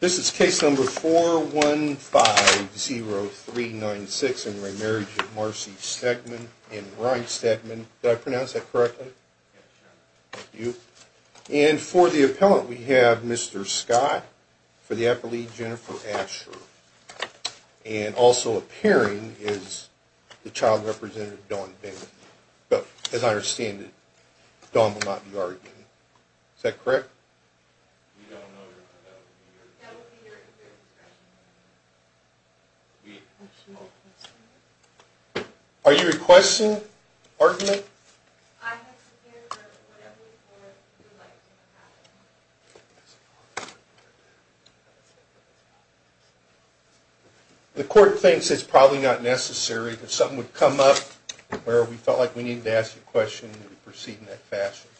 This is case number 4150396 in re Marriage of Marcy Stegman and Ryan Stegman. Did I pronounce that correctly? Yes, sir. Thank you. And for the appellant, we have Mr. Scott for the affiliate, Jennifer Asher. And also appearing is the child representative, Dawn Bingham. But as I understand it, Dawn will not be arguing. Is that correct? We don't know. Are you requesting argument? The court thinks it's probably not necessary that something would come up where we felt like we needed to ask a question and proceed in that fashion.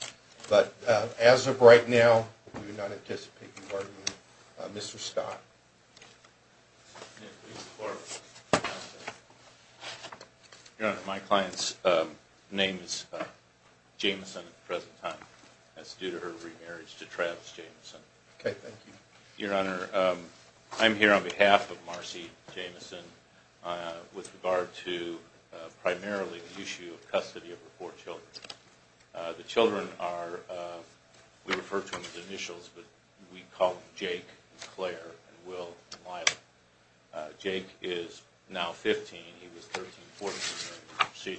But as of right now, we do not anticipate an argument. Mr. Scott. Your Honor, my client's name is Jameson at the present time. That's due to her remarriage to Travis Jameson. Okay, thank you. Your Honor, I'm here on behalf of Marcy Jameson with regard to primarily the issue of custody of her four children. The children are, we refer to them as initials, but we call them Jake and Claire and Will and Lila. Jake is now 15. He was 13-14.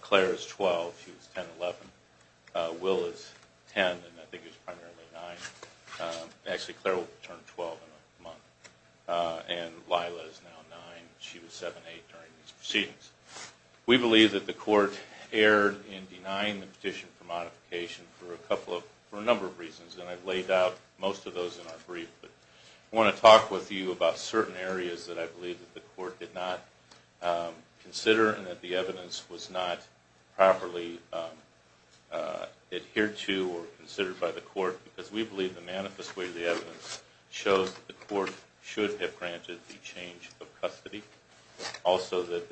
Claire is 12. She was 10-11. Will is 10 and I think he was primarily 9. Actually, Claire will turn 12 in a month. And Lila is now 9. She was 7-8 during these proceedings. We believe that the court erred in denying the petition for modification for a number of reasons, and I've laid out most of those in our brief. But I want to talk with you about certain areas that I believe that the court did not consider and that the evidence was not properly adhered to or considered by the court, because we believe the manifest way of the evidence shows that the court should have granted the change of custody. Also, that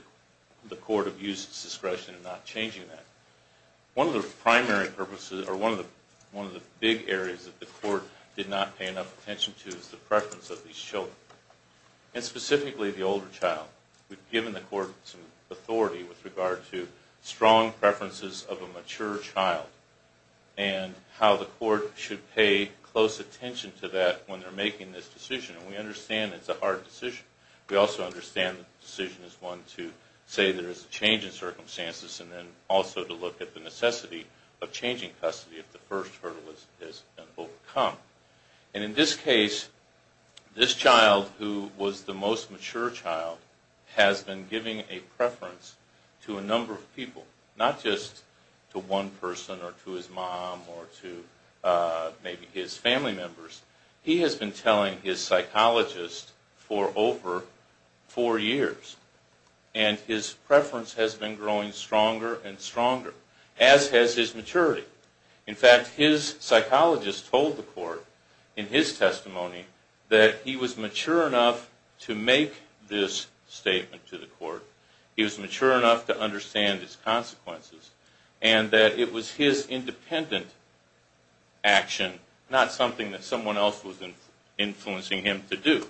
the court abused its discretion in not changing that. One of the primary purposes, or one of the big areas that the court did not pay enough attention to is the preference of these children, and specifically the older child. We've given the court some authority with regard to strong preferences of a mature child and how the court should pay close attention to that when they're making this decision. And we understand it's a hard decision. We also understand the decision is one to say there is a change in circumstances and then also to look at the necessity of changing custody if the first hurdle has been overcome. And in this case, this child, who was the most mature child, has been giving a preference to a number of people, not just to one person or to his mom or to maybe his family members. He has been telling his psychologist for over four years. And his preference has been growing stronger and stronger, as has his maturity. In fact, his psychologist told the court in his testimony that he was mature enough to make this statement to the court. He was mature enough to understand its consequences. And that it was his independent action, not something that someone else was influencing him to do.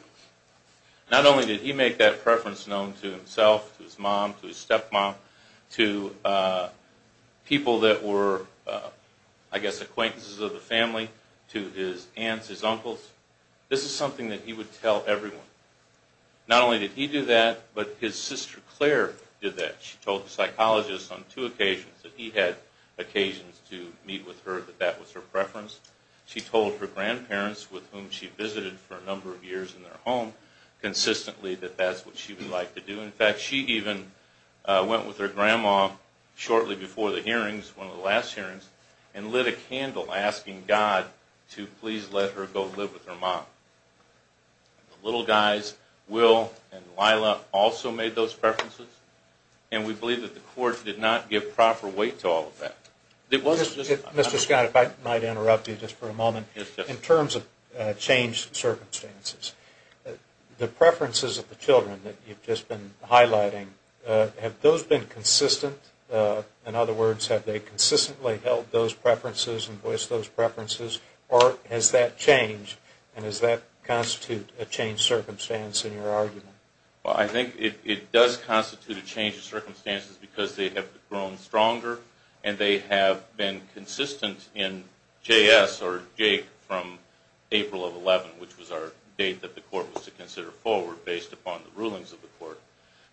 Not only did he make that preference known to himself, to his mom, to his stepmom, to people that were, I guess, acquaintances of the family, to his aunts, his uncles. This is something that he would tell everyone. Not only did he do that, but his sister Claire did that. She told the psychologist on two occasions that he had occasions to meet with her, that that was her preference. She told her grandparents, with whom she visited for a number of years in their home, consistently that that's what she would like to do. In fact, she even went with her grandma shortly before the hearings, one of the last hearings, and lit a candle asking God to please let her go live with her mom. The little guys, Will and Lila, also made those preferences. And we believe that the court did not give proper weight to all of that. Mr. Scott, if I might interrupt you just for a moment, in terms of changed circumstances, the preferences of the children that you've just been highlighting, have those been consistent? In other words, have they consistently held those preferences and voiced those preferences? Or has that changed, and has that constituted a changed circumstance in your argument? Well, I think it does constitute a change in circumstances because they have grown stronger, and they have been consistent in J.S. or Jake from April of 11, which was our date that the court was to consider forward based upon the rulings of the court.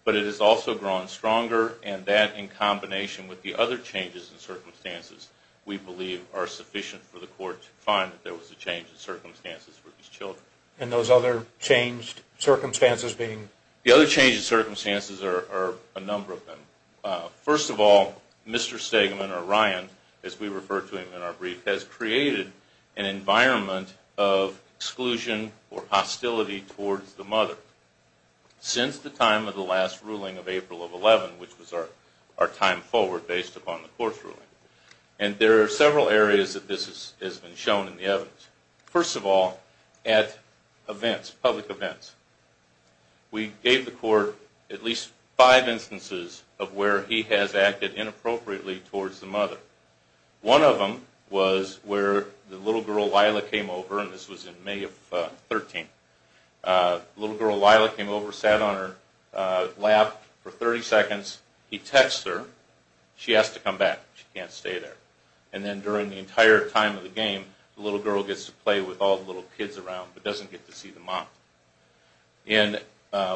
But it has also grown stronger, and that, in combination with the other changes in circumstances, we believe are sufficient for the court to find that there was a change in circumstances for these children. And those other changed circumstances being? The other changed circumstances are a number of them. First of all, Mr. Stegman or Ryan, as we refer to him in our brief, has created an environment of exclusion or hostility towards the mother. Since the time of the last ruling of April of 11, which was our time forward based upon the court's ruling, and there are several areas that this has been shown in the evidence. First of all, at events, public events, we gave the court at least five instances of where he has acted inappropriately towards the mother. One of them was where the little girl, Lila, came over, and this was in May of 13. The little girl, Lila, came over, sat on her lap for 30 seconds. He texts her. She has to come back. She can't stay there. And then during the entire time of the game, the little girl gets to play with all the little kids around, but doesn't get to see the mom. In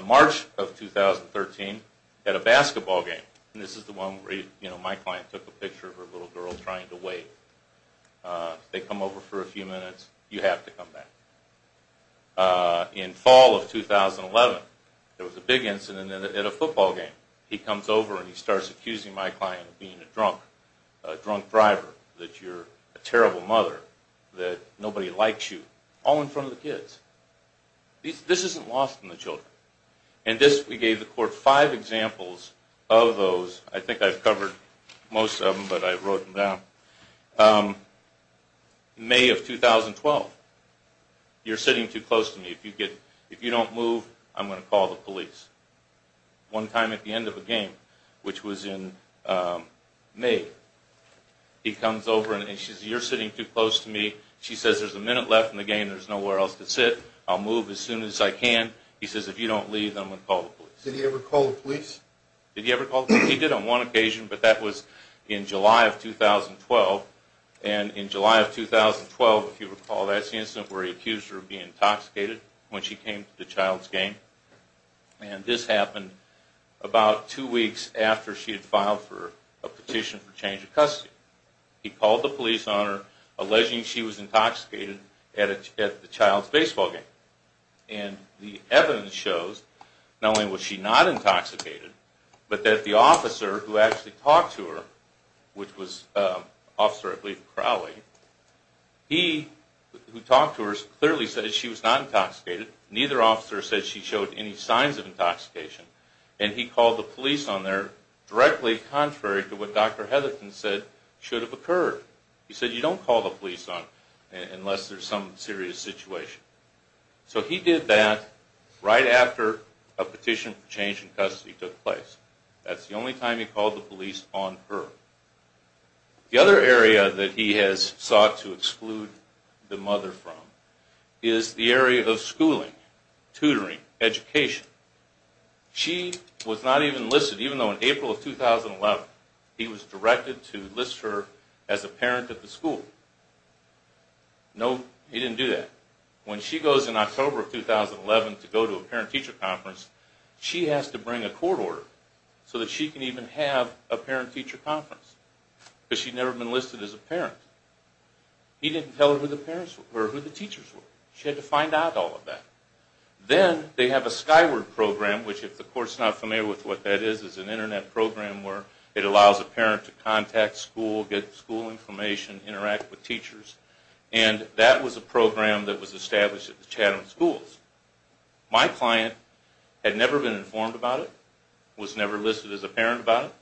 March of 2013, at a basketball game, and this is the one where my client took a picture of her little girl trying to wait. They come over for a few minutes. You have to come back. In fall of 2011, there was a big incident at a football game. He comes over and he starts accusing my client of being a drunk driver, that you're a terrible mother, that nobody likes you, all in front of the kids. This isn't lost on the children. And this, we gave the court five examples of those. I think I've covered most of them, but I wrote them down. May of 2012, you're sitting too close to me. If you don't move, I'm going to call the police. One time at the end of a game, which was in May, he comes over and says, you're sitting too close to me. She says, there's a minute left in the game. There's nowhere else to sit. I'll move as soon as I can. He says, if you don't leave, I'm going to call the police. Did he ever call the police? Did he ever call the police? He did on one occasion, but that was in July of 2012. And in July of 2012, if you recall, that's the incident where he accused her of being intoxicated when she came to the child's game. And this happened about two weeks after she had filed for a petition for change of custody. He called the police on her, alleging she was intoxicated at the child's baseball game. And the evidence shows, not only was she not intoxicated, but that the officer who actually talked to her, which was Officer Crowley, he who talked to her clearly said she was not intoxicated. Neither officer said she showed any signs of intoxication. And he called the police on her directly contrary to what Dr. Hetherton said should have occurred. He said, you don't call the police on her unless there's some serious situation. So he did that right after a petition for change in custody took place. That's the only time he called the police on her. The other area that he has sought to exclude the mother from is the area of schooling, tutoring, education. She was not even listed, even though in April of 2011 he was directed to list her as a parent at the school. No, he didn't do that. When she goes in October of 2011 to go to a parent-teacher conference, she has to bring a court order so that she can even have a parent-teacher conference. Because she'd never been listed as a parent. He didn't tell her who the teachers were. She had to find out all of that. Then they have a Skyward program, which if the court's not familiar with what that is, is an internet program where it allows a parent to contact school, get school information, interact with teachers. And that was a program that was established at the Chatham schools. My client had never been informed about it, was never listed as a parent about it.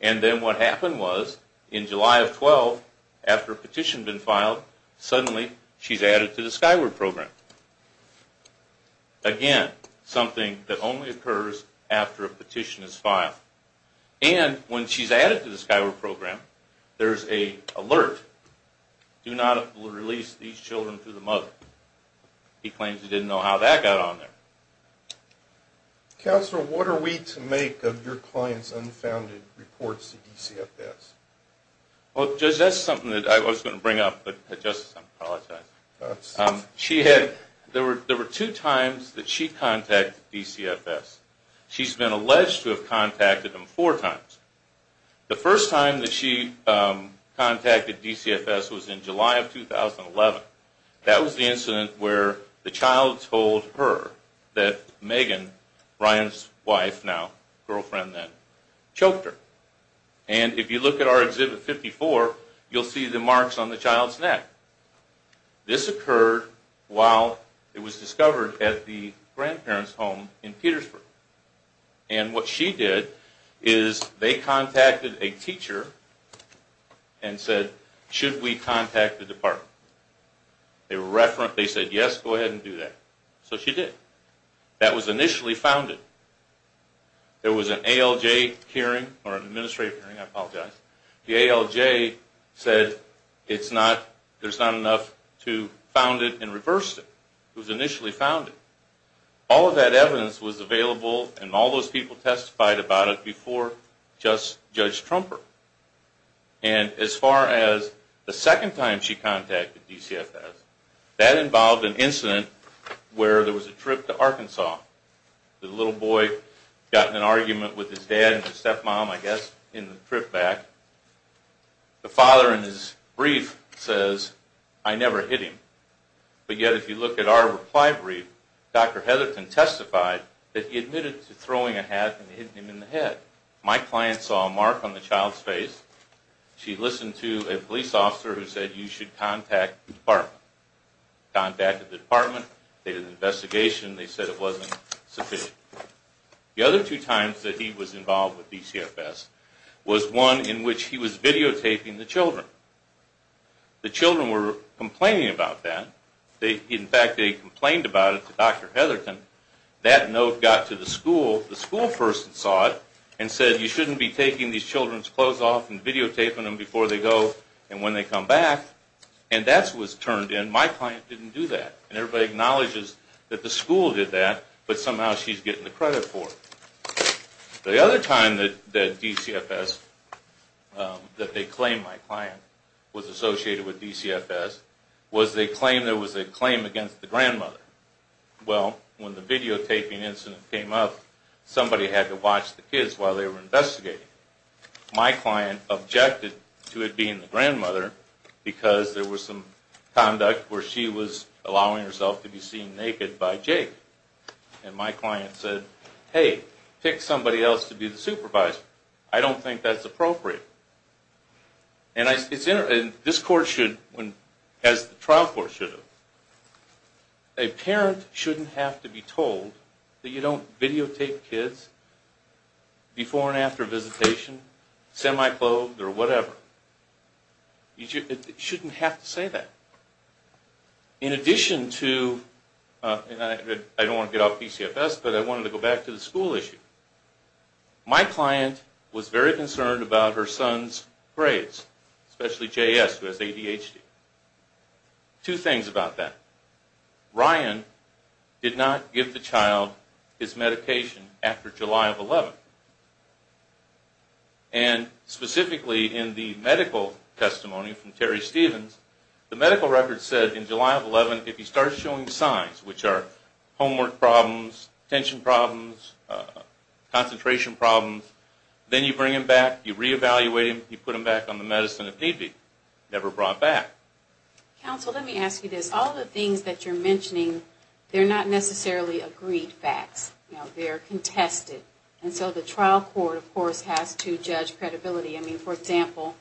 And then what happened was in July of 2012, after a petition had been filed, suddenly she's added to the Skyward program. Again, something that only occurs after a petition is filed. And when she's added to the Skyward program, there's an alert. Do not release these children to the mother. He claims he didn't know how that got on there. Counselor, what are we to make of your client's unfounded reports to DCFS? Well, Judge, that's something that I was going to bring up, but Justice, I apologize. There were two times that she contacted DCFS. She's been alleged to have contacted them four times. The first time that she contacted DCFS was in July of 2011. That was the incident where the child told her that Megan, Ryan's wife now, girlfriend then, choked her. And if you look at our Exhibit 54, you'll see the marks on the child's neck. This occurred while it was discovered at the grandparents' home in Petersburg. And what she did is they contacted a teacher and said, should we contact the department? They said, yes, go ahead and do that. So she did. That was initially founded. There was an ALJ hearing, or an administrative hearing, I apologize. The ALJ said there's not enough to found it and reverse it. It was initially founded. All of that evidence was available and all those people testified about it before Judge Trumper. And as far as the second time she contacted DCFS, that involved an incident where there was a trip to Arkansas. The little boy got in an argument with his dad and his stepmom, I guess, in the trip back. The father in his brief says, I never hit him. But yet if you look at our reply brief, Dr. Heatherton testified that he admitted to throwing a hat and hitting him in the head. My client saw a mark on the child's face. She listened to a police officer who said, you should contact the department. Contacted the department. They did an investigation. They said it wasn't sufficient. The other two times that he was involved with DCFS was one in which he was videotaping the children. The children were complaining about that. In fact, they complained about it to Dr. Heatherton. That note got to the school. The school person saw it and said, you shouldn't be taking these children's clothes off and videotaping them before they go and when they come back. And that was turned in. My client didn't do that. And everybody acknowledges that the school did that, but somehow she's getting the credit for it. The other time that DCFS, that they claimed my client was associated with DCFS, was they claimed there was a claim against the grandmother. Well, when the videotaping incident came up, somebody had to watch the kids while they were investigating. My client objected to it being the grandmother because there was some conduct where she was allowing herself to be seen naked by Jake. And my client said, hey, pick somebody else to be the supervisor. I don't think that's appropriate. And this court should, as the trial court should, a parent shouldn't have to be told that you don't videotape kids before and after visitation, semi-clothed or whatever. You shouldn't have to say that. In addition to, and I don't want to get off DCFS, but I wanted to go back to the school issue. My client was very concerned about her son's grades, especially J.S., who has ADHD. Two things about that. Ryan did not give the child his medication after July of 11. And specifically in the medical testimony from Terry Stevens, the medical record said in July of 11, if he starts showing signs, which are homework problems, attention problems, concentration problems, then you bring him back, you reevaluate him, you put him back on the medicine if need be. Never brought back. Counsel, let me ask you this. All the things that you're mentioning, they're not necessarily agreed facts. They're contested. And so the trial court, of course, has to judge credibility. I mean, for example,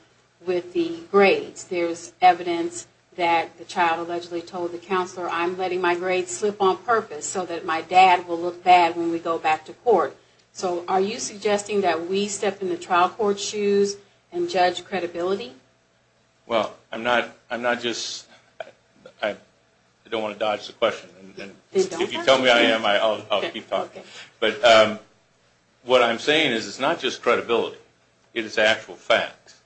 with the grades, there's evidence that the child allegedly told the counselor, I'm letting my grades slip on purpose so that my dad will look bad when we go back to court. So are you suggesting that we step in the trial court shoes and judge credibility? Well, I'm not just, I don't want to dodge the question. If you tell me I am, I'll keep talking. But what I'm saying is it's not just credibility. It is actual facts.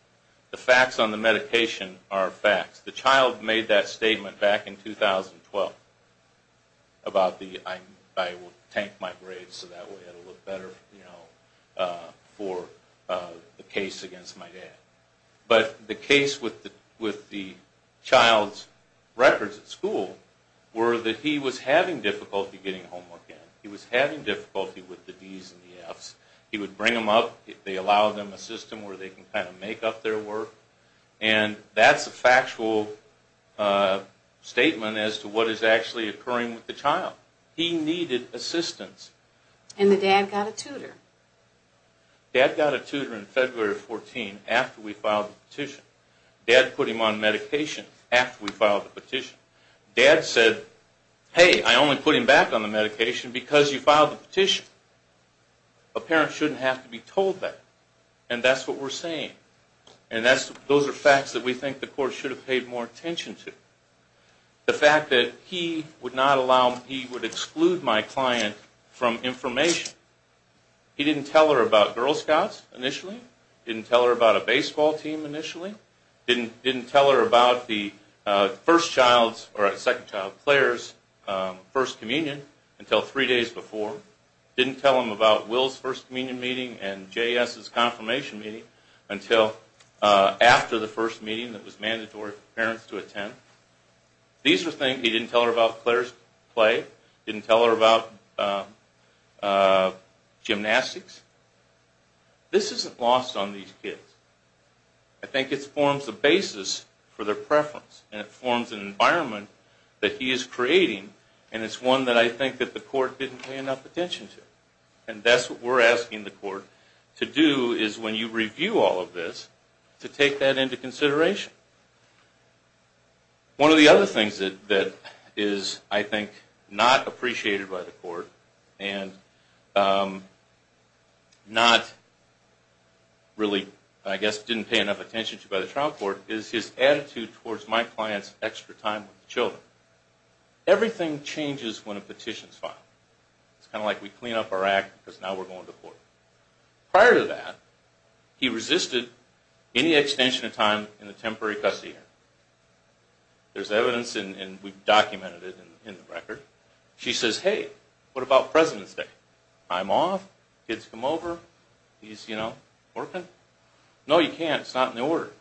The facts on the medication are facts. The child made that statement back in 2012 about I will tank my grades so that way it will look better for the case against my dad. But the case with the child's records at school were that he was having difficulty getting homework in. He was having difficulty with the D's and the F's. He would bring them up. They allowed them a system where they can kind of make up their work. And that's a factual statement as to what is actually occurring with the child. He needed assistance. And the dad got a tutor. Dad got a tutor in February of 2014 after we filed the petition. Dad put him on medication after we filed the petition. Dad said, hey, I only put him back on the medication because you filed the petition. A parent shouldn't have to be told that. And that's what we're saying. And those are facts that we think the court should have paid more attention to. The fact that he would exclude my client from information. He didn't tell her about Girl Scouts initially. Didn't tell her about a baseball team initially. Didn't tell her about the second child, Claire's, first communion until three days before. Didn't tell him about Will's first communion meeting and J.S.'s confirmation meeting until after the first meeting that was mandatory for parents to attend. These are things he didn't tell her about Claire's play. Didn't tell her about gymnastics. This isn't lost on these kids. I think it forms the basis for their preference. And it forms an environment that he is creating. And it's one that I think the court didn't pay enough attention to. And that's what we're asking the court to do is when you review all of this, to take that into consideration. One of the other things that is, I think, not appreciated by the court and not really, I guess, didn't pay enough attention to by the trial court, is his attitude towards my client's extra time with the children. Everything changes when a petition is filed. It's kind of like we clean up our act because now we're going to court. Prior to that, he resisted any extension of time in the temporary custody hearing. There's evidence, and we've documented it in the record. She says, hey, what about President's Day? I'm off. Kids come over. He's, you know, working. No, you can't. It's not in the order.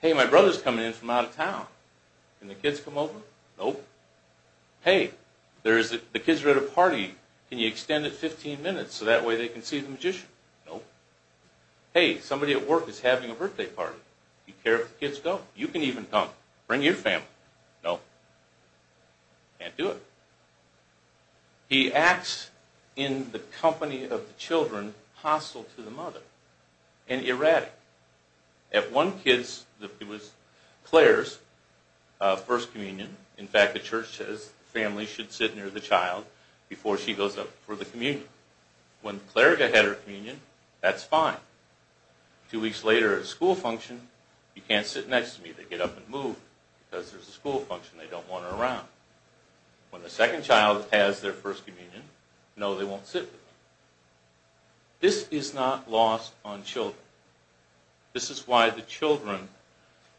Hey, my brother's coming in from out of town. Can the kids come over? Nope. Hey, the kids are at a party. Can you extend it 15 minutes so that way they can see the magician? Nope. Hey, somebody at work is having a birthday party. Do you care if the kids go? You can even come. Bring your family. Nope. Can't do it. He acts in the company of the children hostile to the mother and erratic. At one kid's, it was Claire's first communion. In fact, the church says the family should sit near the child before she goes up for the communion. When the cleric had her communion, that's fine. Two weeks later at school function, you can't sit next to me. They get up and move because there's a school function. They don't want her around. When the second child has their first communion, no, they won't sit with me. This is not lost on children. This is why the children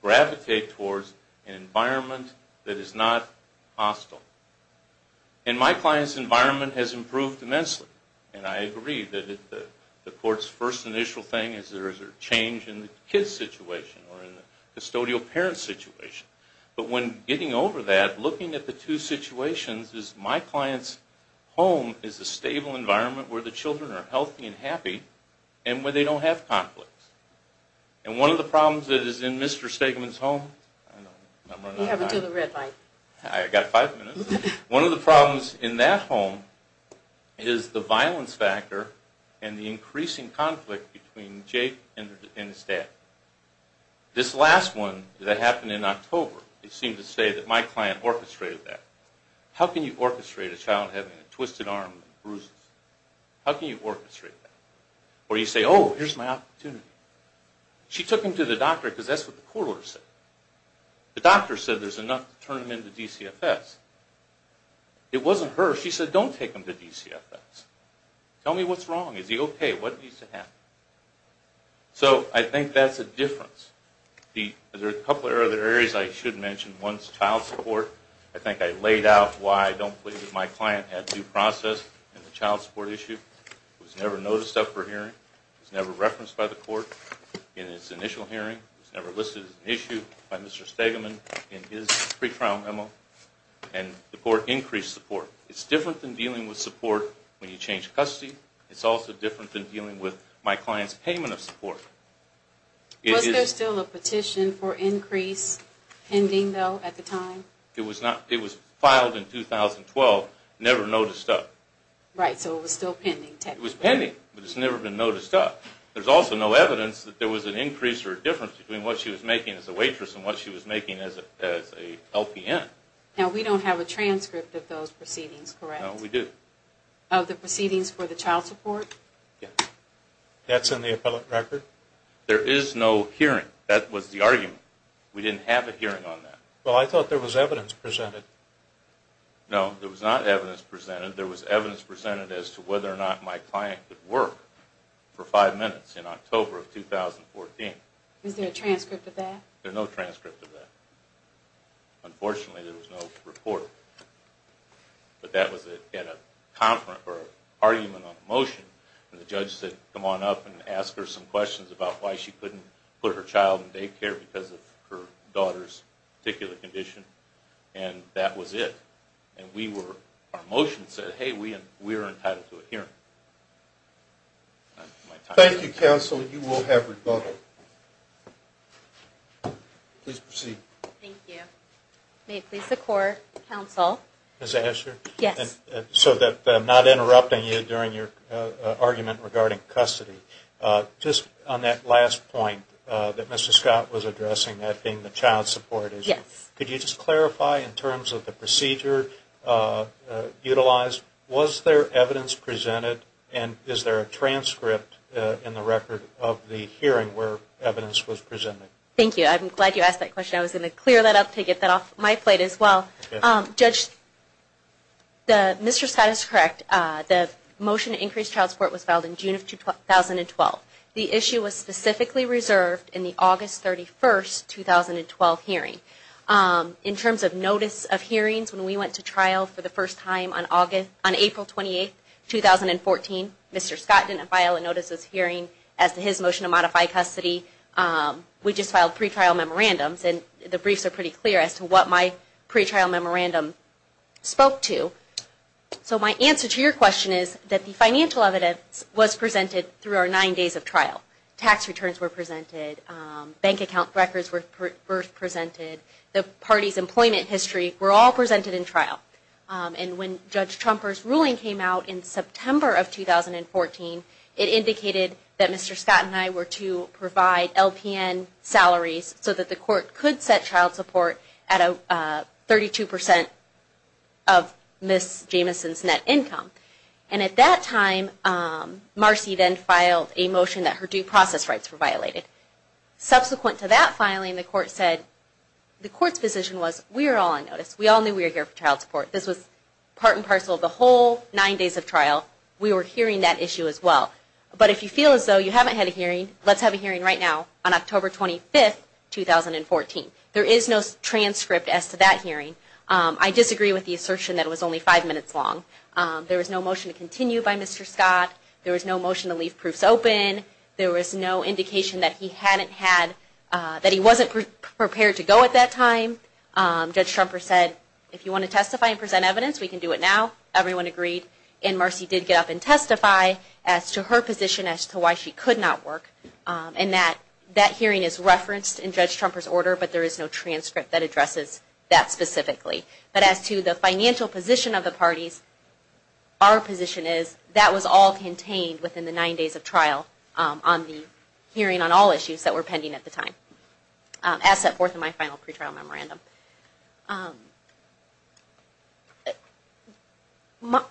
gravitate towards an environment that is not hostile. And my client's environment has improved immensely. And I agree that the court's first initial thing is there is a change in the kid's situation or in the custodial parent's situation. But when getting over that, looking at the two situations, is my client's home is a stable environment where the children are healthy and happy and where they don't have conflicts. And one of the problems that is in Mr. Stegman's home... You have to do the red light. I've got five minutes. One of the problems in that home is the violence factor and the increasing conflict between Jake and his dad. This last one that happened in October, it seemed to say that my client orchestrated that. How can you orchestrate a child having a twisted arm and bruises? How can you orchestrate that? Where you say, oh, here's my opportunity. She took him to the doctor because that's what the court order said. The doctor said there's enough to turn him into DCFS. It wasn't her. She said, don't take him to DCFS. Tell me what's wrong. Is he okay? What needs to happen? So I think that's a difference. There are a couple of other areas I should mention. One is child support. I think I laid out why I don't believe that my client had due process in the child support issue. It was never noticed up for hearing. It was never referenced by the court in its initial hearing. It was never listed as an issue by Mr. Stegman in his pre-trial memo. And the court increased support. It's different than dealing with support when you change custody. It's also different than dealing with my client's payment of support. Was there still a petition for increase pending, though, at the time? It was filed in 2012, never noticed up. Right, so it was still pending technically. It was pending, but it's never been noticed up. There's also no evidence that there was an increase or a difference between what she was making as a waitress and what she was making as a LPN. Now, we don't have a transcript of those proceedings, correct? No, we do. Of the proceedings for the child support? Yes. That's in the appellate record? There is no hearing. That was the argument. We didn't have a hearing on that. Well, I thought there was evidence presented. No, there was not evidence presented. There was evidence presented as to whether or not my client could work for five minutes in October of 2014. Is there a transcript of that? There's no transcript of that. Unfortunately, there was no report. But that was at a conference or an argument on a motion, and the judge said, come on up and ask her some questions about why she couldn't put her child in daycare because of her daughter's particular condition, and that was it. And our motion said, hey, we are entitled to a hearing. Thank you, counsel. You will have rebuttal. Please proceed. Thank you. May it please the court, counsel. Ms. Asher? Yes. So that I'm not interrupting you during your argument regarding custody, just on that last point that Mr. Scott was addressing, that being the child support issue. Yes. Could you just clarify in terms of the procedure utilized, was there evidence presented, and is there a transcript in the record of the hearing where evidence was presented? Thank you. I'm glad you asked that question. I was going to clear that up to get that off my plate as well. Judge, Mr. Scott is correct. The motion to increase child support was filed in June of 2012. The issue was specifically reserved in the August 31, 2012 hearing. In terms of notice of hearings, when we went to trial for the first time on April 28, 2014, Mr. Scott didn't file a notice of hearing as to his motion to modify custody. We just filed pre-trial memorandums, and the briefs are pretty clear as to what my pre-trial memorandum spoke to. So my answer to your question is that the financial evidence was presented through our nine days of trial. Tax returns were presented. Bank account records were presented. The party's employment history were all presented in trial. And when Judge Trumper's ruling came out in September of 2014, it indicated that Mr. Scott and I were to provide LPN salaries so that the court could set child support at 32% of Ms. Jamison's net income. And at that time, Marcy then filed a motion that her due process rights were violated. Subsequent to that filing, the court's position was, we are all on notice, we all knew we were here for child support. This was part and parcel of the whole nine days of trial. We were hearing that issue as well. But if you feel as though you haven't had a hearing, let's have a hearing right now on October 25, 2014. There is no transcript as to that hearing. I disagree with the assertion that it was only five minutes long. There was no motion to continue by Mr. Scott. There was no motion to leave proofs open. There was no indication that he wasn't prepared to go at that time. Judge Trumper said, if you want to testify and present evidence, we can do it now. Everyone agreed. And Marcy did get up and testify as to her position as to why she could not work. And that hearing is referenced in Judge Trumper's order, but there is no transcript that addresses that specifically. But as to the financial position of the parties, our position is that was all contained within the nine days of trial on the hearing on all issues that were pending at the time, as set forth in my final pre-trial memorandum.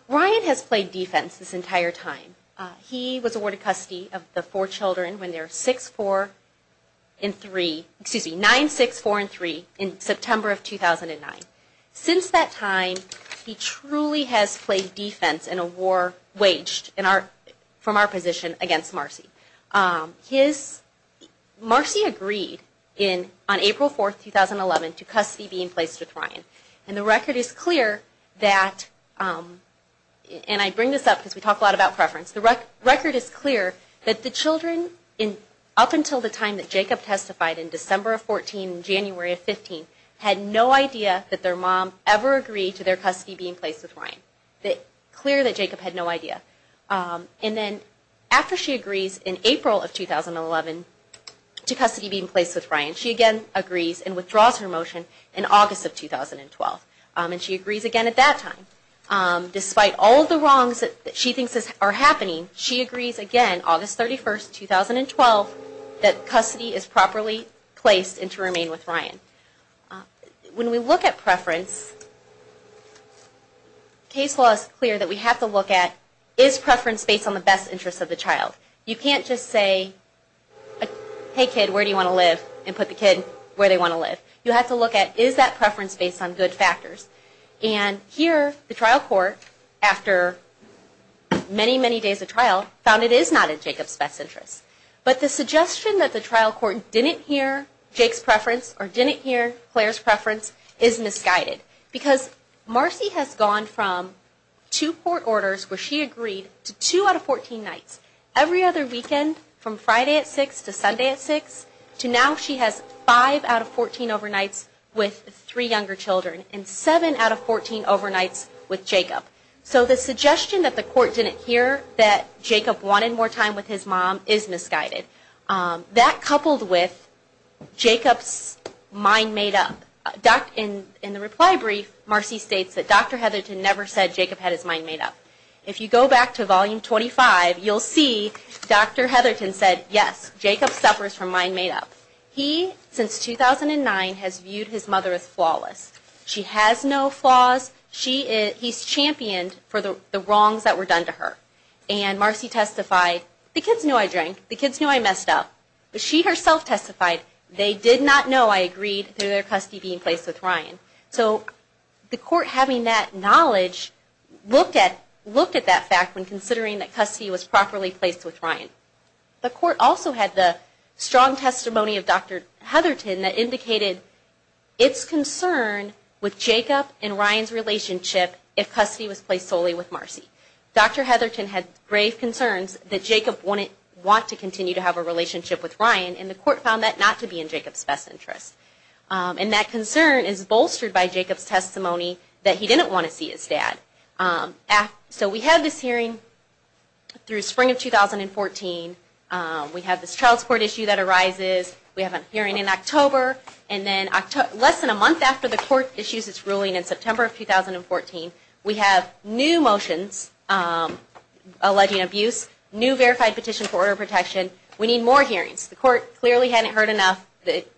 Ryan has played defense this entire time. He was awarded custody of the four children when they were 9, 6, 4, and 3 in September of 2009. Since that time, he truly has played defense in a war waged from our position against Marcy. Marcy agreed on April 4, 2011, to custody being placed with Ryan. And the record is clear that, and I bring this up because we talk a lot about preference, the record is clear that the children up until the time that Jacob testified, in December of 2014 and January of 2015, had no idea that their mom ever agreed to their custody being placed with Ryan. Clear that Jacob had no idea. And then after she agrees in April of 2011 to custody being placed with Ryan, she again agrees and withdraws her motion in August of 2012. And she agrees again at that time. Despite all of the wrongs that she thinks are happening, she agrees again, August 31, 2012, that custody is properly placed and to remain with Ryan. When we look at preference, case law is clear that we have to look at, is preference based on the best interest of the child? You can't just say, hey kid, where do you want to live? And put the kid where they want to live. You have to look at, is that preference based on good factors? And here, the trial court, after many, many days of trial, found it is not in Jacob's best interest. But the suggestion that the trial court didn't hear Jake's preference or didn't hear Claire's preference is misguided. Because Marcy has gone from two court orders where she agreed to two out of 14 nights, every other weekend from Friday at 6 to Sunday at 6, to now she has five out of 14 overnights with three younger children. And seven out of 14 overnights with Jacob. So the suggestion that the court didn't hear that Jacob wanted more time with his mom is misguided. That coupled with Jacob's mind made up. In the reply brief, Marcy states that Dr. Heatherton never said Jacob had his mind made up. If you go back to volume 25, you'll see Dr. Heatherton said, yes, Jacob suffers from mind made up. He, since 2009, has viewed his mother as flawless. She has no flaws. He's championed for the wrongs that were done to her. And Marcy testified, the kids knew I drank. The kids knew I messed up. But she herself testified, they did not know I agreed to their custody being placed with Ryan. So the court having that knowledge looked at that fact when considering that custody was properly placed with Ryan. The court also had the strong testimony of Dr. Heatherton that indicated its concern with Jacob and Ryan's relationship if custody was placed solely with Marcy. Dr. Heatherton had grave concerns that Jacob wouldn't want to continue to have a relationship with Ryan. And the court found that not to be in Jacob's best interest. And that concern is bolstered by Jacob's testimony that he didn't want to see his dad. So we have this hearing through spring of 2014. We have this child support issue that arises. We have a hearing in October. And then less than a month after the court issues its ruling in September of 2014, we have new motions alleging abuse, new verified petition for order of protection. We need more hearings. The court clearly hadn't heard enough.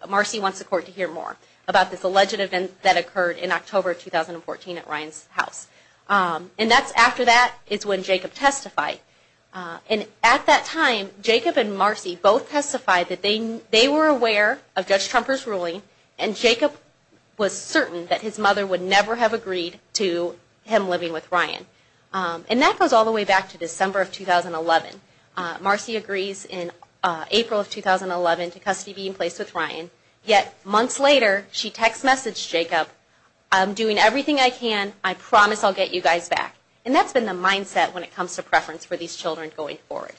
Marcy wants the court to hear more about this alleged event that occurred in October 2014 at Ryan's house. And that's after that is when Jacob testified. And at that time, Jacob and Marcy both testified that they were aware of Judge Trumper's ruling and Jacob was certain that his mother would never have agreed to him living with Ryan. And that goes all the way back to December of 2011. Marcy agrees in April of 2011 to custody be in place with Ryan. Yet months later, she text messaged Jacob, I'm doing everything I can, I promise I'll get you guys back. And that's been the mindset when it comes to preference for these children going forward.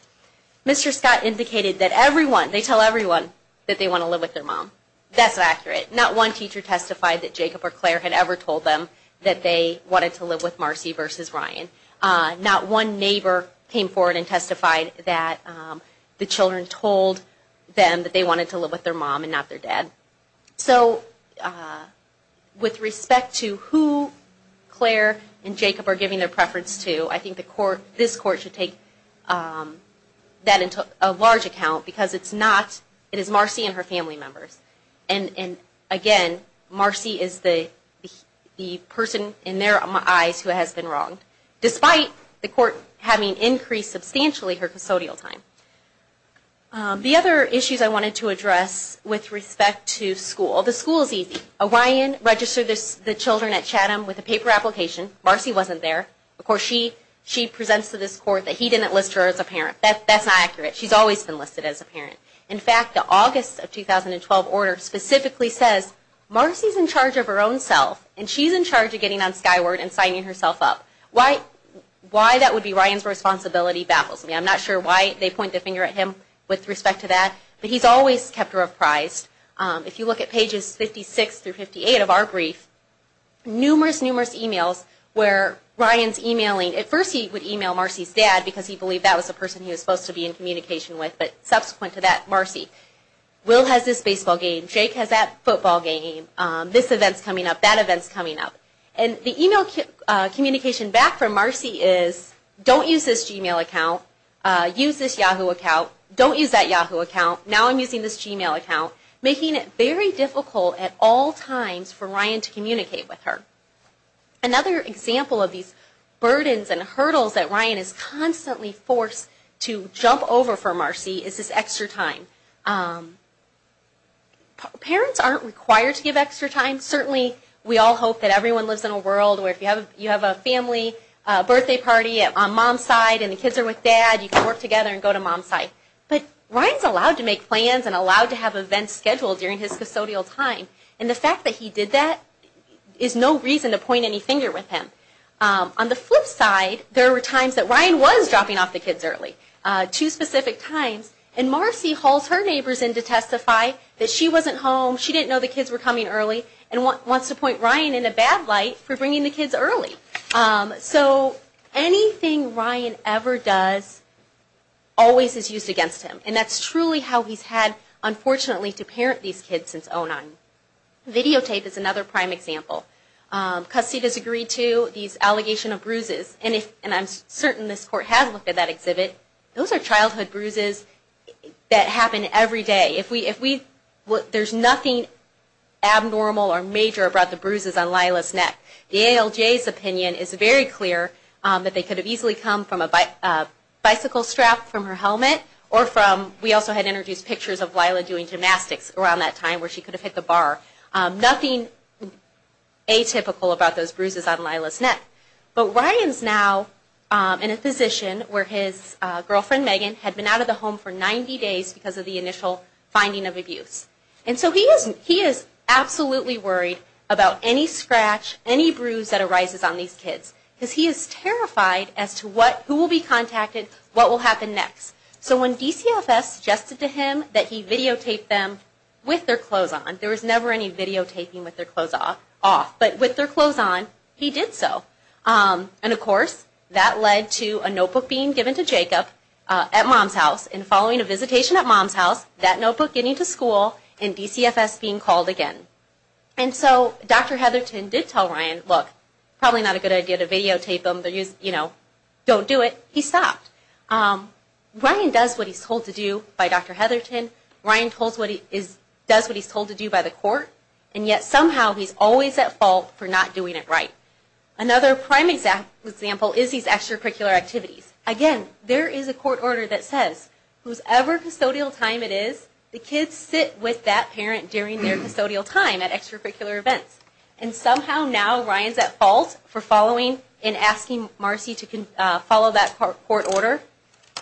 Mr. Scott indicated that everyone, they tell everyone that they want to live with their mom. That's accurate. Not one teacher testified that Jacob or Claire had ever told them that they wanted to live with Marcy versus Ryan. Not one neighbor came forward and testified that the children told them that they wanted to live with their mom and not their dad. So with respect to who Claire and Jacob are giving their preference to, I think this court should take that into a large account because it's not, it is Marcy and her family members. And again, Marcy is the person in their eyes who has been wronged, despite the court having increased substantially her custodial time. The other issues I wanted to address with respect to school, the school is easy. Ryan registered the children at Chatham with a paper application. Marcy wasn't there. Of course, she presents to this court that he didn't list her as a parent. She's always been listed as a parent. In fact, the August of 2012 order specifically says Marcy's in charge of her own self, and she's in charge of getting on Skyward and signing herself up. Why that would be Ryan's responsibility baffles me. I'm not sure why they point the finger at him with respect to that, but he's always kept her apprised. If you look at pages 56 through 58 of our brief, numerous, numerous emails where Ryan's emailing, at first he would email Marcy's dad because he believed that was the person he was supposed to be in communication with, but subsequent to that, Marcy. Will has this baseball game. Jake has that football game. This event's coming up. That event's coming up. And the email communication back from Marcy is, don't use this Gmail account. Use this Yahoo account. Don't use that Yahoo account. Now I'm using this Gmail account, making it very difficult at all times for Ryan to communicate with her. Another example of these burdens and hurdles that Ryan is constantly forced to jump over for Marcy is this extra time. Parents aren't required to give extra time. Certainly we all hope that everyone lives in a world where if you have a family birthday party on Mom's side, and the kids are with Dad, you can work together and go to Mom's side. But Ryan's allowed to make plans and allowed to have events scheduled during his custodial time, and the fact that he did that is no reason to point any finger with him. On the flip side, there were times that Ryan was dropping off the kids early. Two specific times. And Marcy hauls her neighbors in to testify that she wasn't home, she didn't know the kids were coming early, and wants to point Ryan in a bad light for bringing the kids early. So anything Ryan ever does always is used against him, and that's truly how he's had, unfortunately, to parent these kids since oh-nine. Videotape is another prime example. Custody disagreed to, these allegations of bruises, and I'm certain this court has looked at that exhibit. Those are childhood bruises that happen every day. There's nothing abnormal or major about the bruises on Lila's neck. The ALJ's opinion is very clear that they could have easily come from a bicycle strap from her helmet, or from, we also had introduced pictures of Lila doing gymnastics around that time, where she could have hit the bar. Nothing atypical about those bruises on Lila's neck. But Ryan's now in a position where his girlfriend Megan had been out of the home for 90 days because of the initial finding of abuse. And so he is absolutely worried about any scratch, any bruise that arises on these kids, because he is terrified as to who will be contacted, what will happen next. So when DCFS suggested to him that he videotape them with their clothes on, there was never any videotaping with their clothes off, but with their clothes on, he did so. And, of course, that led to a notebook being given to Jacob at Mom's house, and following a visitation at Mom's house, that notebook getting to school and DCFS being called again. And so Dr. Heatherton did tell Ryan, look, probably not a good idea to videotape them, don't do it, he stopped. Ryan does what he's told to do by Dr. Heatherton, Ryan does what he's told to do by the court, and yet somehow he's always at fault for not doing it right. Another prime example is these extracurricular activities. Again, there is a court order that says, whosever custodial time it is, the kids sit with that parent during their custodial time at extracurricular events. And somehow now Ryan's at fault for following and asking Marcy to follow that court order.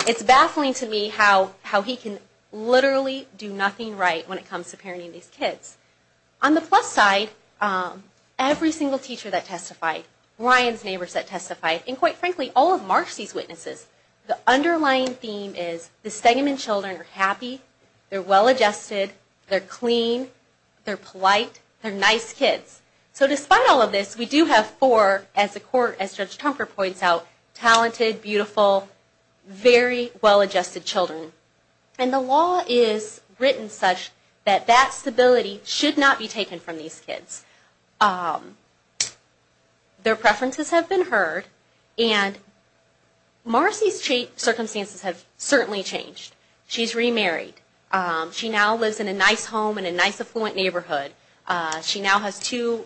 It's baffling to me how he can literally do nothing right when it comes to parenting these kids. On the plus side, every single teacher that testified, Ryan's neighbors that testified, and quite frankly, all of Marcy's witnesses, the underlying theme is the Stegman children are happy, they're well-adjusted, they're clean, they're polite, they're nice kids. So despite all of this, we do have four, as Judge Tomper points out, talented, beautiful, very well-adjusted children. And the law is written such that that stability should not be taken from these kids. Their preferences have been heard. And Marcy's circumstances have certainly changed. She's remarried. She now lives in a nice home in a nice affluent neighborhood. She now has two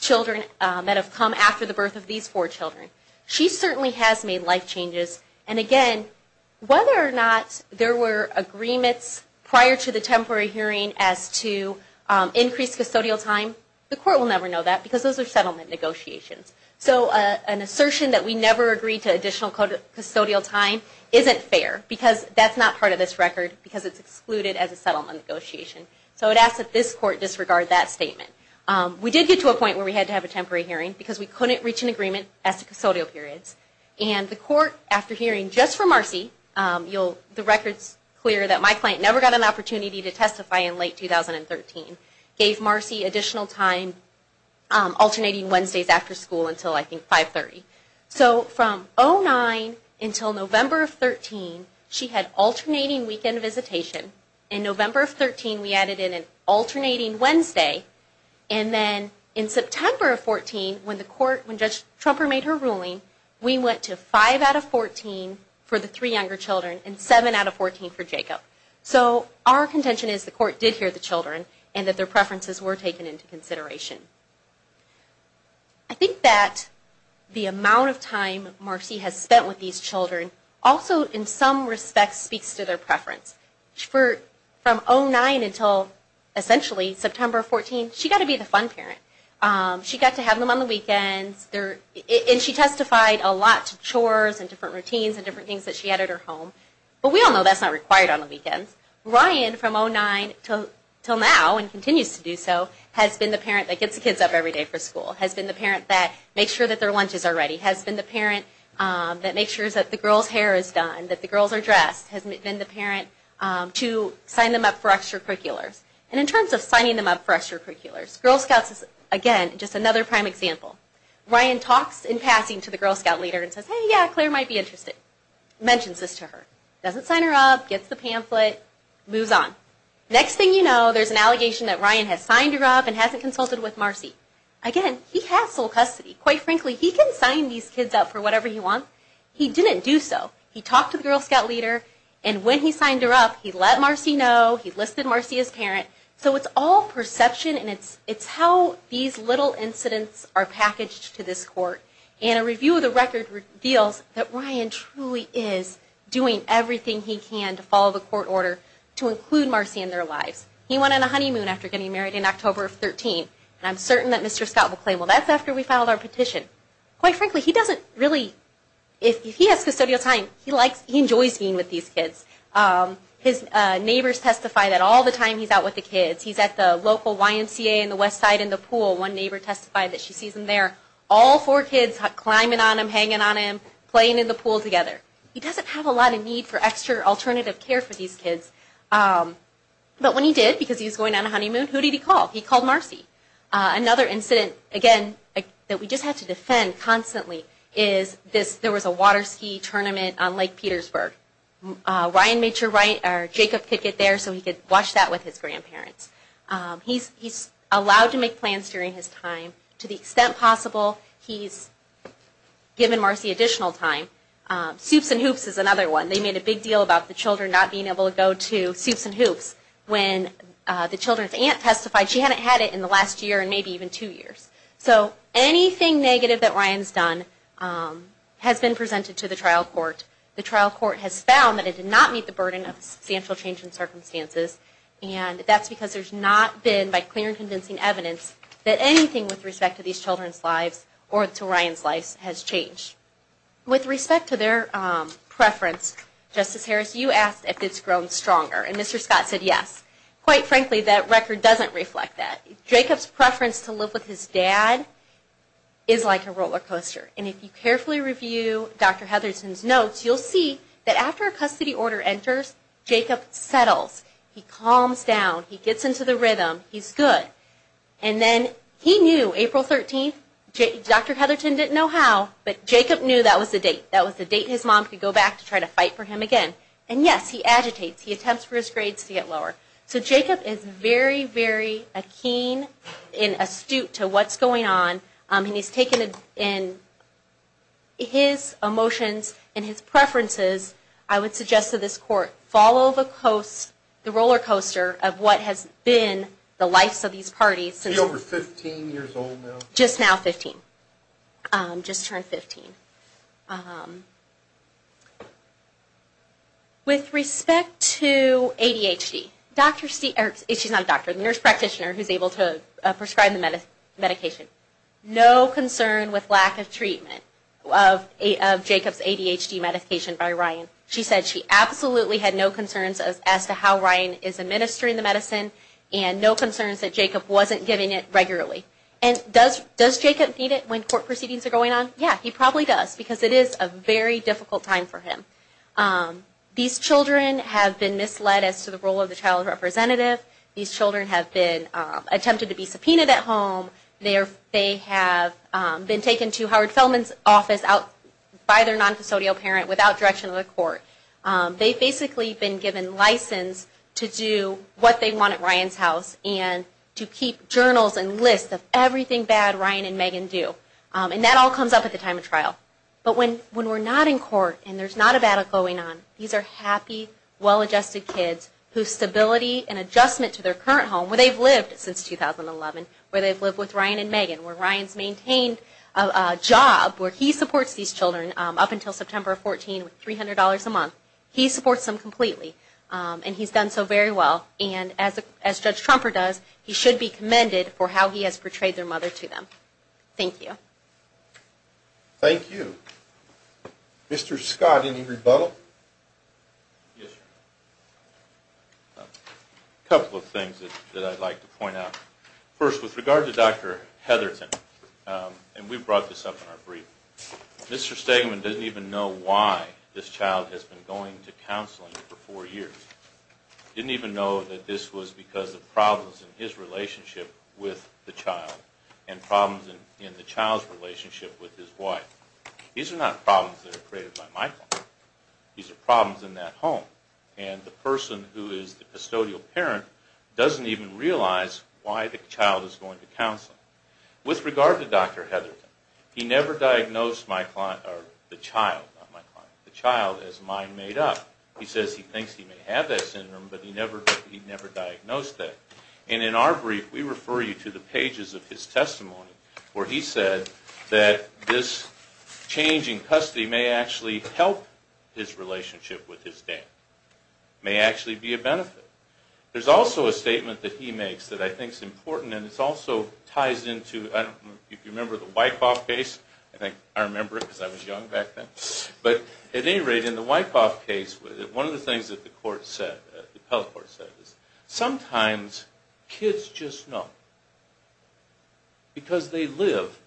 children that have come after the birth of these four children. She certainly has made life changes. And again, whether or not there were agreements prior to the temporary hearing as to increase custodial time, the court will never know that because those are settlement negotiations. So an assertion that we never agreed to additional custodial time isn't fair because that's not part of this record because it's excluded as a settlement negotiation. So it asks that this court disregard that statement. We did get to a point where we had to have a temporary hearing because we couldn't reach an agreement as to custodial periods. And the court, after hearing just from Marcy, the record's clear that my client never got an opportunity to testify in late 2013, gave Marcy additional time alternating Wednesdays after school until, I think, 5.30. So from 09 until November of 13, she had alternating weekend visitation. In November of 13, we added in an alternating Wednesday. And then in September of 14, when Judge Trumper made her ruling, we went to 5 out of 14 for the three younger children and 7 out of 14 for Jacob. So our contention is the court did hear the children and that their preferences were taken into consideration. I think that the amount of time Marcy has spent with these children also, in some respects, speaks to their preference. From 09 until, essentially, September 14, she got to be the fun parent. She got to have them on the weekends. And she testified a lot to chores and different routines and different things that she had at her home. But we all know that's not required on the weekends. Ryan, from 09 until now and continues to do so, has been the parent that gets the kids up every day for school, has been the parent that makes sure that their lunches are ready, has been the parent that makes sure that the girl's hair is done, that the girls are dressed, has been the parent to sign them up for extracurriculars. And in terms of signing them up for extracurriculars, Girl Scouts is, again, just another prime example. Ryan talks in passing to the Girl Scout leader and says, Hey, yeah, Claire might be interested. Mentions this to her. Doesn't sign her up. Gets the pamphlet. Moves on. Next thing you know, there's an allegation that Ryan has signed her up and hasn't consulted with Marcy. Again, he has sole custody. Quite frankly, he can sign these kids up for whatever he wants. He didn't do so. He talked to the Girl Scout leader, and when he signed her up, he let Marcy know, he listed Marcy as parent. So it's all perception, and it's how these little incidents are packaged to this court. And a review of the record reveals that Ryan truly is doing everything he can to follow the court order to include Marcy in their lives. He went on a honeymoon after getting married in October of 2013, and I'm certain that Mr. Scott will claim, Well, that's after we filed our petition. Quite frankly, he doesn't really, if he has custodial time, he enjoys being with these kids. His neighbors testify that all the time he's out with the kids. He's at the local YMCA in the west side in the pool. One neighbor testified that she sees him there. All four kids climbing on him, hanging on him, playing in the pool together. He doesn't have a lot of need for extra alternative care for these kids. But when he did, because he was going on a honeymoon, who did he call? He called Marcy. Another incident, again, that we just have to defend constantly, is there was a water ski tournament on Lake Petersburg. Ryan made sure Jacob could get there so he could watch that with his grandparents. He's allowed to make plans during his time. To the extent possible, he's given Marcy additional time. Soups and hoops is another one. They made a big deal about the children not being able to go to soups and hoops when the children's aunt testified. She hadn't had it in the last year and maybe even two years. So anything negative that Ryan's done has been presented to the trial court. The trial court has found that it did not meet the burden of substantial change in circumstances, and that's because there's not been, by clear and convincing evidence, that anything with respect to these children's lives or to Ryan's life has changed. With respect to their preference, Justice Harris, you asked if it's grown stronger, and Mr. Scott said yes. Quite frankly, that record doesn't reflect that. Jacob's preference to live with his dad is like a roller coaster. If you carefully review Dr. Hetherton's notes, you'll see that after a custody order enters, Jacob settles. He calms down. He gets into the rhythm. He's good. And then he knew April 13th. Dr. Hetherton didn't know how, but Jacob knew that was the date. That was the date his mom could go back to try to fight for him again. And yes, he agitates. He attempts for his grades to get lower. So Jacob is very, very keen and astute to what's going on, and he's taken in his emotions and his preferences. I would suggest to this Court, follow the roller coaster of what has been the lives of these parties. He's over 15 years old now. Just now 15. Just turned 15. With respect to ADHD, Dr. Steele, she's not a doctor, she's a nurse practitioner who's able to prescribe the medication. No concern with lack of treatment of Jacob's ADHD medication by Ryan. She said she absolutely had no concerns as to how Ryan is administering the medicine and no concerns that Jacob wasn't getting it regularly. And does Jacob need it when court proceedings are going on? Yeah, he probably does because it is a very difficult time for him. These children have been misled as to the role of the child representative. These children have been attempted to be subpoenaed at home. They have been taken to Howard Feldman's office by their non-facilio parent without direction of the court. They've basically been given license to do what they want at Ryan's house and to keep journals and lists of everything bad Ryan and Megan do. And that all comes up at the time of trial. But when we're not in court and there's not a battle going on, these are happy, well-adjusted kids whose stability and adjustment to their current home, where they've lived since 2011, where they've lived with Ryan and Megan, where Ryan's maintained a job where he supports these children up until September 14 with $300 a month. He supports them completely, and he's done so very well. And as Judge Trumper does, he should be commended for how he has portrayed their mother to them. Thank you. Thank you. Mr. Scott, any rebuttal? Yes, sir. A couple of things that I'd like to point out. First, with regard to Dr. Heatherton, and we brought this up in our brief, Mr. Stegman didn't even know why this child has been going to counseling for four years. He didn't even know that this was because of problems in his relationship with the child and problems in the child's relationship with his wife. These are not problems that are created by my client. These are problems in that home. And the person who is the custodial parent doesn't even realize why the child is going to counseling. With regard to Dr. Heatherton, he never diagnosed the child as mind made up. He says he thinks he may have that syndrome, but he never diagnosed that. And in our brief, we refer you to the pages of his testimony where he said that this change in custody may actually help his relationship with his dad, may actually be a benefit. There's also a statement that he makes that I think is important, and it also ties into, if you remember the Wyckoff case, I think I remember it because I was young back then, but at any rate, in the Wyckoff case, one of the things that the court said, sometimes kids just know. Because they live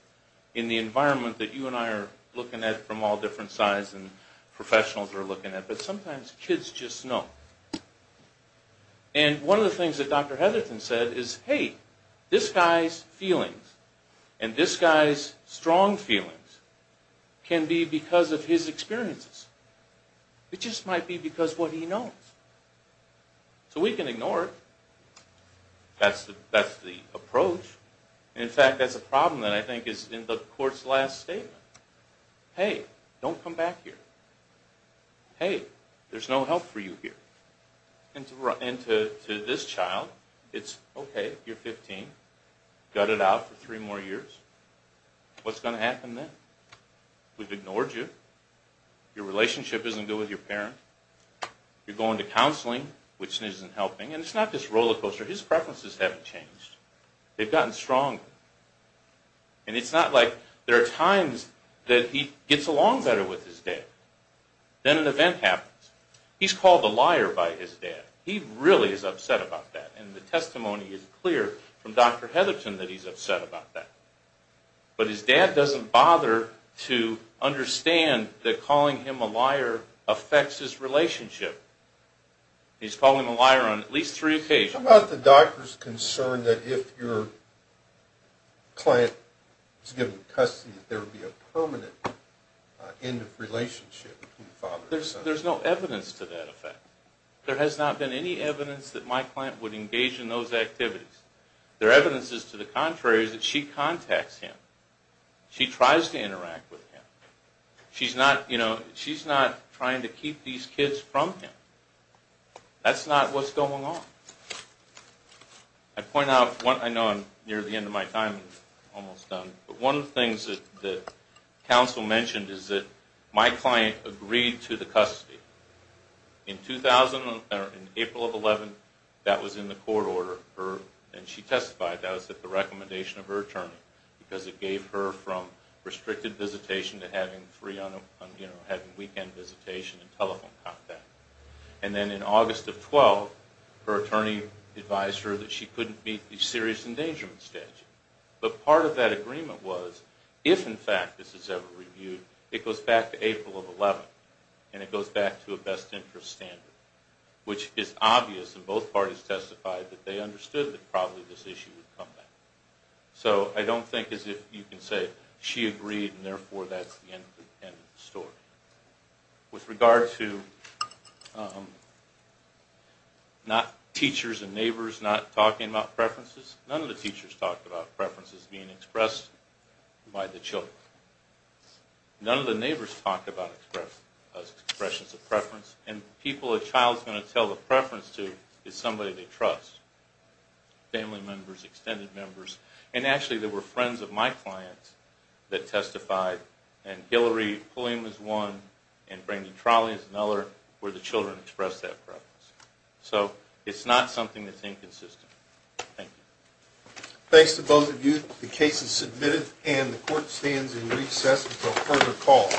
in the environment that you and I are looking at from all different sides and professionals are looking at, but sometimes kids just know. And one of the things that Dr. Heatherton said is, hey, this guy's feelings and this guy's strong feelings can be because of his experiences. It just might be because of what he knows. So we can ignore it. That's the approach. In fact, that's a problem that I think is in the court's last statement. Hey, don't come back here. Hey, there's no help for you here. And to this child, it's okay, you're 15, gut it out for three more years. What's going to happen then? We've ignored you. Your relationship isn't good with your parent. You're going to counseling, which isn't helping. And it's not just rollercoaster. His preferences haven't changed. They've gotten stronger. And it's not like there are times that he gets along better with his dad. Then an event happens. He's called a liar by his dad. He really is upset about that. And the testimony is clear from Dr. Heatherton that he's upset about that. But his dad doesn't bother to understand that calling him a liar affects his relationship. He's called him a liar on at least three occasions. How about the doctor's concern that if your client is given custody, that there would be a permanent end of relationship between father and son? There's no evidence to that effect. There has not been any evidence that my client would engage in those activities. There evidence is to the contrary that she contacts him. She tries to interact with him. She's not trying to keep these kids from him. That's not what's going on. I point out one thing. I know I'm near the end of my time. I'm almost done. But one of the things that counsel mentioned is that my client agreed to the custody. In April of 2011, that was in the court order. And she testified that was at the recommendation of her attorney because it gave her from restricted visitation to having weekend visitation and telephone contact. And then in August of 2012, her attorney advised her that she couldn't meet the serious endangerment statute. But part of that agreement was if, in fact, this is ever reviewed, it goes back to April of 2011, and it goes back to a best interest standard, which is obvious in both parties testified that they understood that probably this issue would come back. So I don't think as if you can say she agreed, and therefore that's the end of the story. With regard to not teachers and neighbors not talking about preferences, none of the teachers talked about preferences being expressed by the children. None of the neighbors talked about expressions of preference. And people a child is going to tell a preference to is somebody they trust, family members, extended members. And actually there were friends of my client that testified. And Hillary Pulliam is one, and Brandon Trolley is another where the children expressed that preference. So it's not something that's inconsistent. Thank you. Thanks to both of you. The case is submitted, and the court stands in recess until further call.